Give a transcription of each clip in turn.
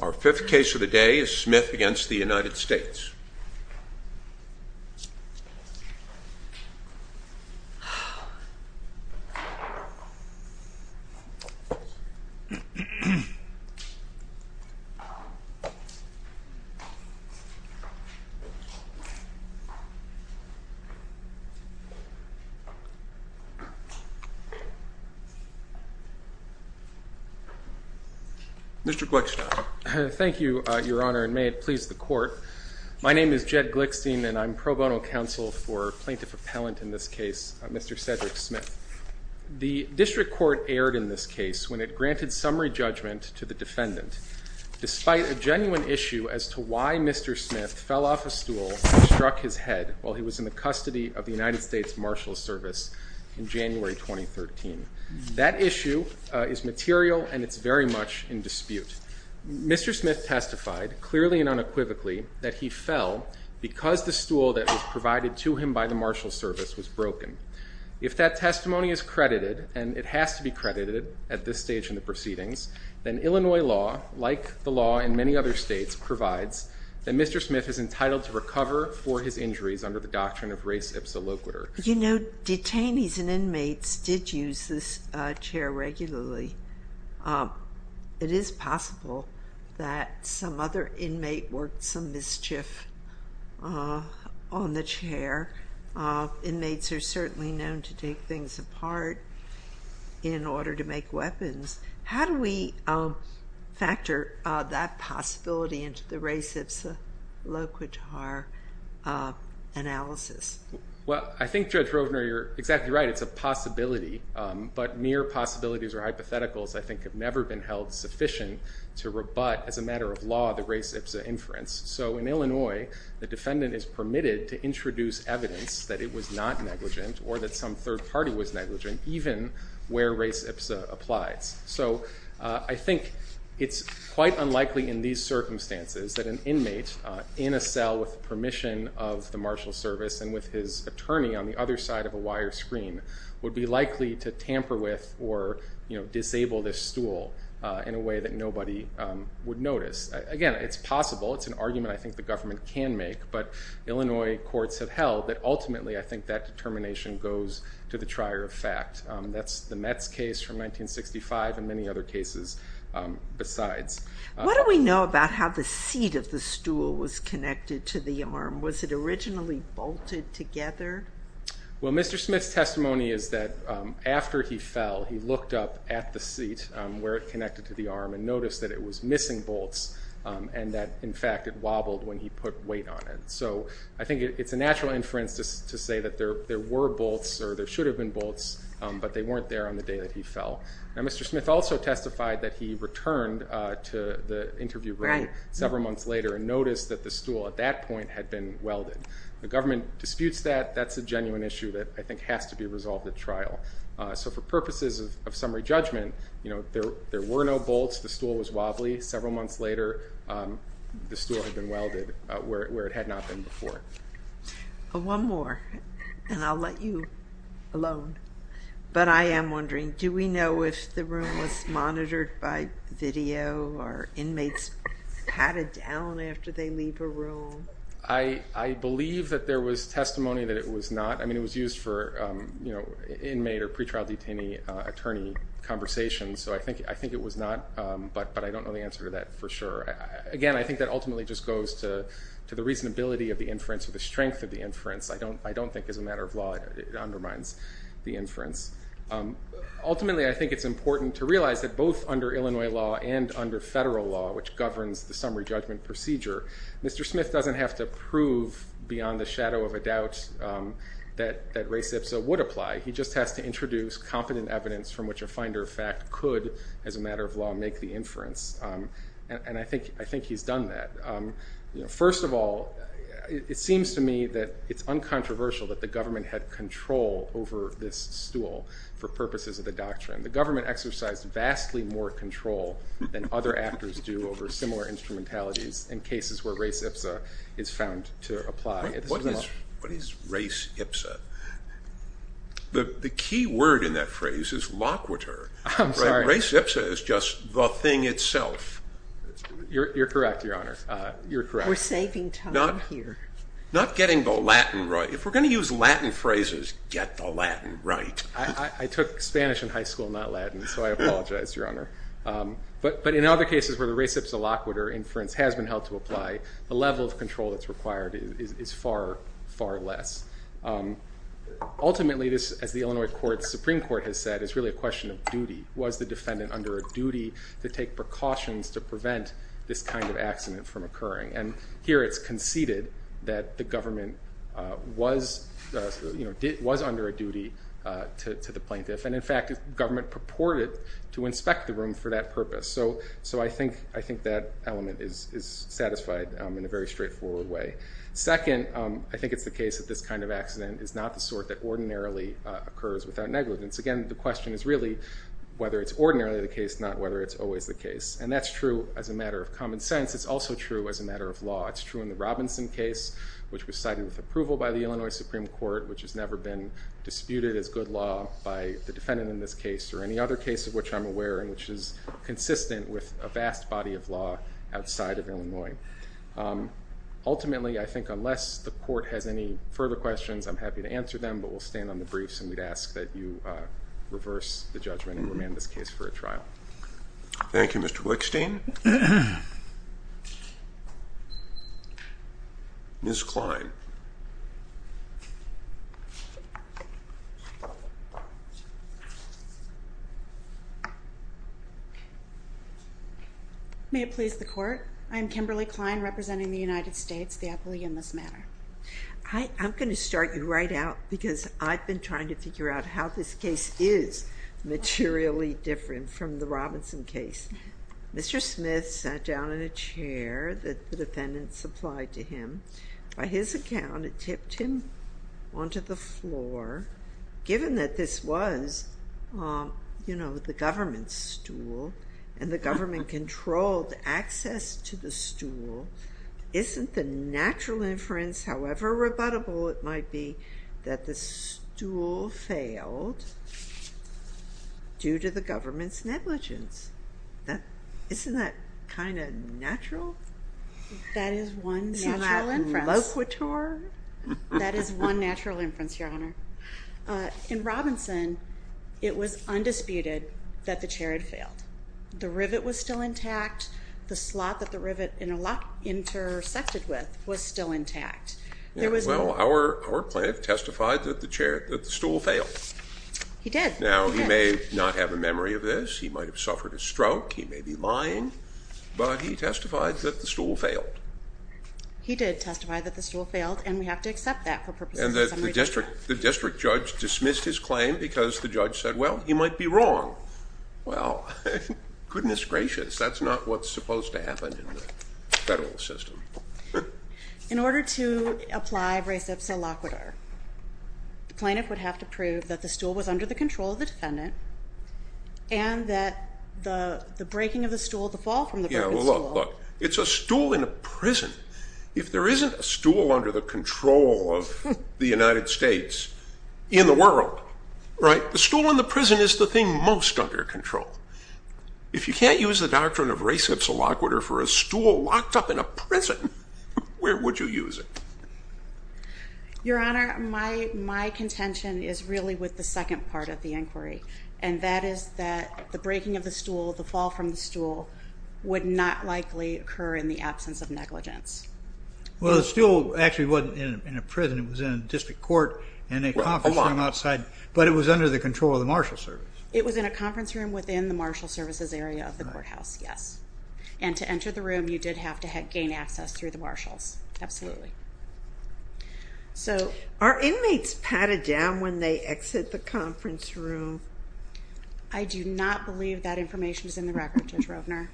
Our fifth case of the day is Smith v. United States. Mr. Gleickstein. Thank you, Your Honor. And may it please the Court, my name is Jed Gleickstein and I'm pro bono counsel for plaintiff appellant in this case, Mr. Cedric Smith. The District Court erred in this case when it granted summary judgment to the defendant despite a genuine issue as to why Mr. Smith fell off a stool and struck his head while he was in the custody of the United States Marshals Service in January 2013. Mr. Smith testified clearly and unequivocally that he fell because the stool that was provided to him by the Marshals Service was broken. If that testimony is credited, and it has to be credited at this stage in the proceedings, then Illinois law, like the law in many other states, provides that Mr. Smith is entitled to recover for his injuries under the doctrine of res ipsa loquitur. You know, detainees and inmates did use this chair regularly. It is possible that some other inmate worked some mischief on the chair. Inmates are certainly known to take things apart in order to make weapons. How do we factor that possibility into the res ipsa loquitur analysis? Well, I think, Judge Rovner, you're exactly right. It's a possibility, but mere possibilities or hypotheticals, I think, have never been held sufficient to rebut, as a matter of law, the res ipsa inference. So in Illinois, the defendant is permitted to introduce evidence that it was not negligent or that some third party was negligent, even where res ipsa applies. So I think it's quite unlikely in these circumstances that an inmate in a cell with permission of the Marshal Service and with his attorney on the other side of a wire screen would be likely to tamper with or disable this stool in a way that nobody would notice. Again, it's possible. It's an argument I think the government can make, but Illinois courts have held that ultimately I think that determination goes to the trier of fact. That's the Metz case from 1965 and many other cases besides. What do we know about how the seat of the stool was connected to the arm? Was it originally bolted together? Well Mr. Smith's testimony is that after he fell, he looked up at the seat where it connected to the arm and noticed that it was missing bolts and that, in fact, it wobbled when he put weight on it. So I think it's a natural inference to say that there were bolts or there should have been bolts, but they weren't there on the day that he fell. Now Mr. Smith also testified that he returned to the interview room several months later and noticed that the stool at that point had been welded. The government disputes that. That's a genuine issue that I think has to be resolved at trial. So for purposes of summary judgment, there were no bolts. The stool was wobbly. Several months later, the stool had been welded where it had not been before. One more and I'll let you alone, but I am wondering, do we know if the room was monitored by video or inmates patted down after they leave a room? I believe that there was testimony that it was not. I mean, it was used for inmate or pretrial detainee attorney conversations. So I think it was not, but I don't know the answer to that for sure. Again, I think that ultimately just goes to the reasonability of the inference or the strength of the inference. I don't think as a matter of law it undermines the inference. Ultimately, I think it's important to realize that both under Illinois law and under federal law, which governs the summary judgment procedure, Mr. Smith doesn't have to prove beyond the shadow of a doubt that race ipsa would apply. He just has to introduce competent evidence from which a finder of fact could, as a matter of law, make the inference. And I think he's done that. First of all, it seems to me that it's uncontroversial that the government had control over this tool for purposes of the doctrine. The government exercised vastly more control than other actors do over similar instrumentalities in cases where race ipsa is found to apply. What is race ipsa? The key word in that phrase is loquitur. Race ipsa is just the thing itself. You're correct, Your Honor. You're correct. We're saving time here. Not getting the Latin right. If we're going to use Latin phrases, get the Latin right. I took Spanish in high school, not Latin, so I apologize, Your Honor. But in other cases where the race ipsa loquitur inference has been held to apply, the level of control that's required is far, far less. Ultimately, this, as the Illinois Supreme Court has said, is really a question of duty. Was the defendant under a duty to take precautions to prevent this kind of accident from occurring? Here it's conceded that the government was under a duty to the plaintiff, and in fact, government purported to inspect the room for that purpose. So I think that element is satisfied in a very straightforward way. Second, I think it's the case that this kind of accident is not the sort that ordinarily occurs without negligence. Again, the question is really whether it's ordinarily the case, not whether it's always the case. And that's true as a matter of common sense. It's also true as a matter of law. It's true in the Robinson case, which was cited with approval by the Illinois Supreme Court, which has never been disputed as good law by the defendant in this case or any other case of which I'm aware and which is consistent with a vast body of law outside of Illinois. Ultimately, I think unless the court has any further questions, I'm happy to answer them, but we'll stand on the briefs and we'd ask that you reverse the judgment and remand this case for a trial. Thank you, Mr. Wickstein. Ms. Klein. May it please the court, I am Kimberly Klein, representing the United States, the appellee in this matter. I'm going to start you right out because I've been trying to figure out how this case is materially different from the Robinson case. Mr. Smith sat down in a chair that the defendant supplied to him. By his account, it tipped him onto the floor. Given that this was, you know, the government's stool and the government controlled access to the stool, isn't the natural inference, however rebuttable it might be, that the stool failed due to the government's negligence? Isn't that kind of natural? That is one natural inference. Isn't that loquitur? That is one natural inference, Your Honor. In Robinson, it was undisputed that the chair had failed. The rivet was still intact. The slot that the rivet intersected with was still intact. Well, our plaintiff testified that the stool failed. He did. Now, he may not have a memory of this. He might have suffered a stroke. He may be lying, but he testified that the stool failed. He did testify that the stool failed, and we have to accept that for purposes of summary judgment. And the district judge dismissed his claim because the judge said, well, he might be wrong. Well, goodness gracious, that's not what's supposed to happen in the federal system. In order to apply res ipsa loquitur, the plaintiff would have to prove that the stool was under the control of the defendant and that the breaking of the stool, the fall from the broken stool. Yeah, well, look. It's a stool in a prison. If there isn't a stool under the control of the United States in the world, right, the stool in the prison is the thing most under control. If you can't use the doctrine of res ipsa loquitur for a stool locked up in a prison, where would you use it? Your Honor, my contention is really with the second part of the inquiry, and that is that the breaking of the stool, the fall from the stool would not likely occur in the absence of negligence. Well, the stool actually wasn't in a prison. It was in a district court and a conference room outside, but it was under the control of the marshal service. It was in a conference room within the marshal services area of the courthouse, yes. And to enter the room, you did have to gain access through the marshals, absolutely. Are inmates patted down when they exit the conference room? I do not believe that information is in the record, Judge Rovner.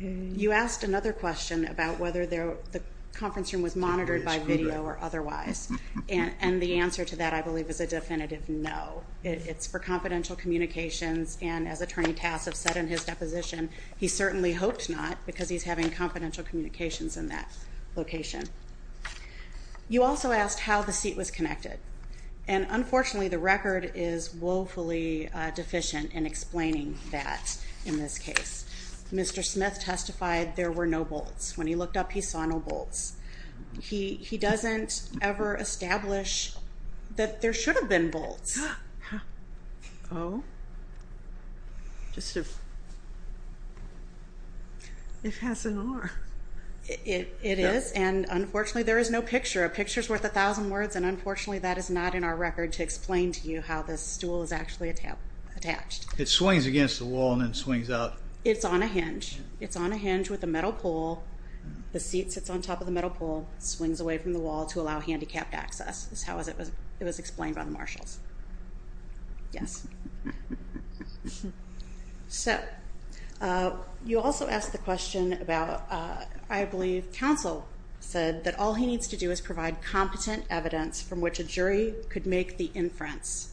You asked another question about whether the conference room was monitored by video or otherwise, and the answer to that, I believe, is a definitive no. It's for confidential communications, and as Attorney Tassav said in his deposition, he certainly hoped not, because he's having confidential communications in that location. You also asked how the seat was connected, and unfortunately, the record is woefully deficient in explaining that in this case. Mr. Smith testified there were no bolts. When he looked up, he saw no bolts. He doesn't ever establish that there should have been bolts. Oh. Just as if it has an arm. It is, and unfortunately, there is no picture. A picture is worth a thousand words, and unfortunately, that is not in our record to explain to you how this stool is actually attached. It swings against the wall and then swings out. It's on a hinge. It's on a hinge with a metal pole. The seat sits on top of the metal pole, swings away from the wall to allow handicapped access, is how it was explained by the marshals. Yes. So, you also asked the question about, I believe, counsel said that all he needs to do is provide competent evidence from which a jury could make the inference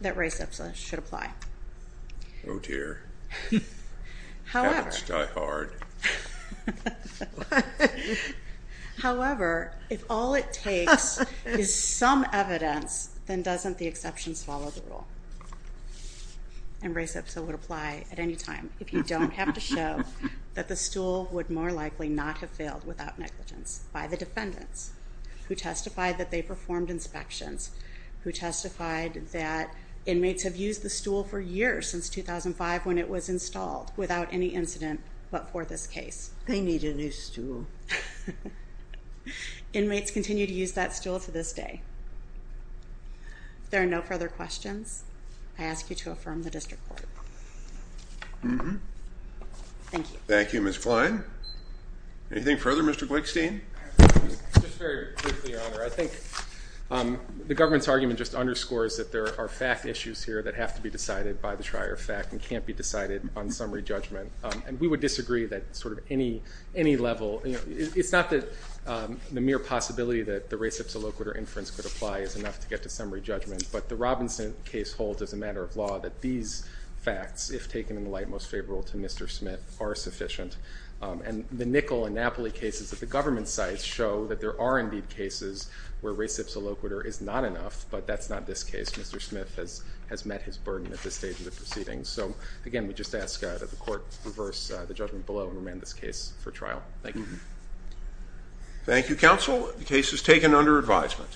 that res ipsa should apply. Oh, dear. Heavens die hard. However, if all it takes is some evidence, then doesn't the exceptions follow the rule? And res ipsa would apply at any time if you don't have to show that the stool would more likely not have failed without negligence by the defendants who testified that they performed inspections, who testified that inmates have used the stool for years, since 2005 when it was installed, without any incident but for this case. They need a new stool. Inmates continue to use that stool to this day. If there are no further questions, I ask you to affirm the district court. Mm-hmm. Thank you. Thank you, Ms. Klein. Anything further? Mr. Glickstein? Just very briefly, Your Honor. I think the government's argument just underscores that there are fact issues here that have to be decided by the trier of fact and can't be decided on summary judgment. And we would disagree that sort of any level, you know, it's not that the mere possibility that the res ipsa loquitur inference could apply is enough to get to summary judgment. But the Robinson case holds as a matter of law that these facts, if taken in the light most favorable to Mr. Smith, are sufficient. And the Nickel and Napoli cases at the government sites show that there are indeed cases where res ipsa loquitur is not enough. But that's not this case. Mr. Smith has met his burden at this stage of the proceedings. So again, we just ask that the court reverse the judgment below and remand this case for trial. Thank you. Thank you, counsel. The case is taken under advisement.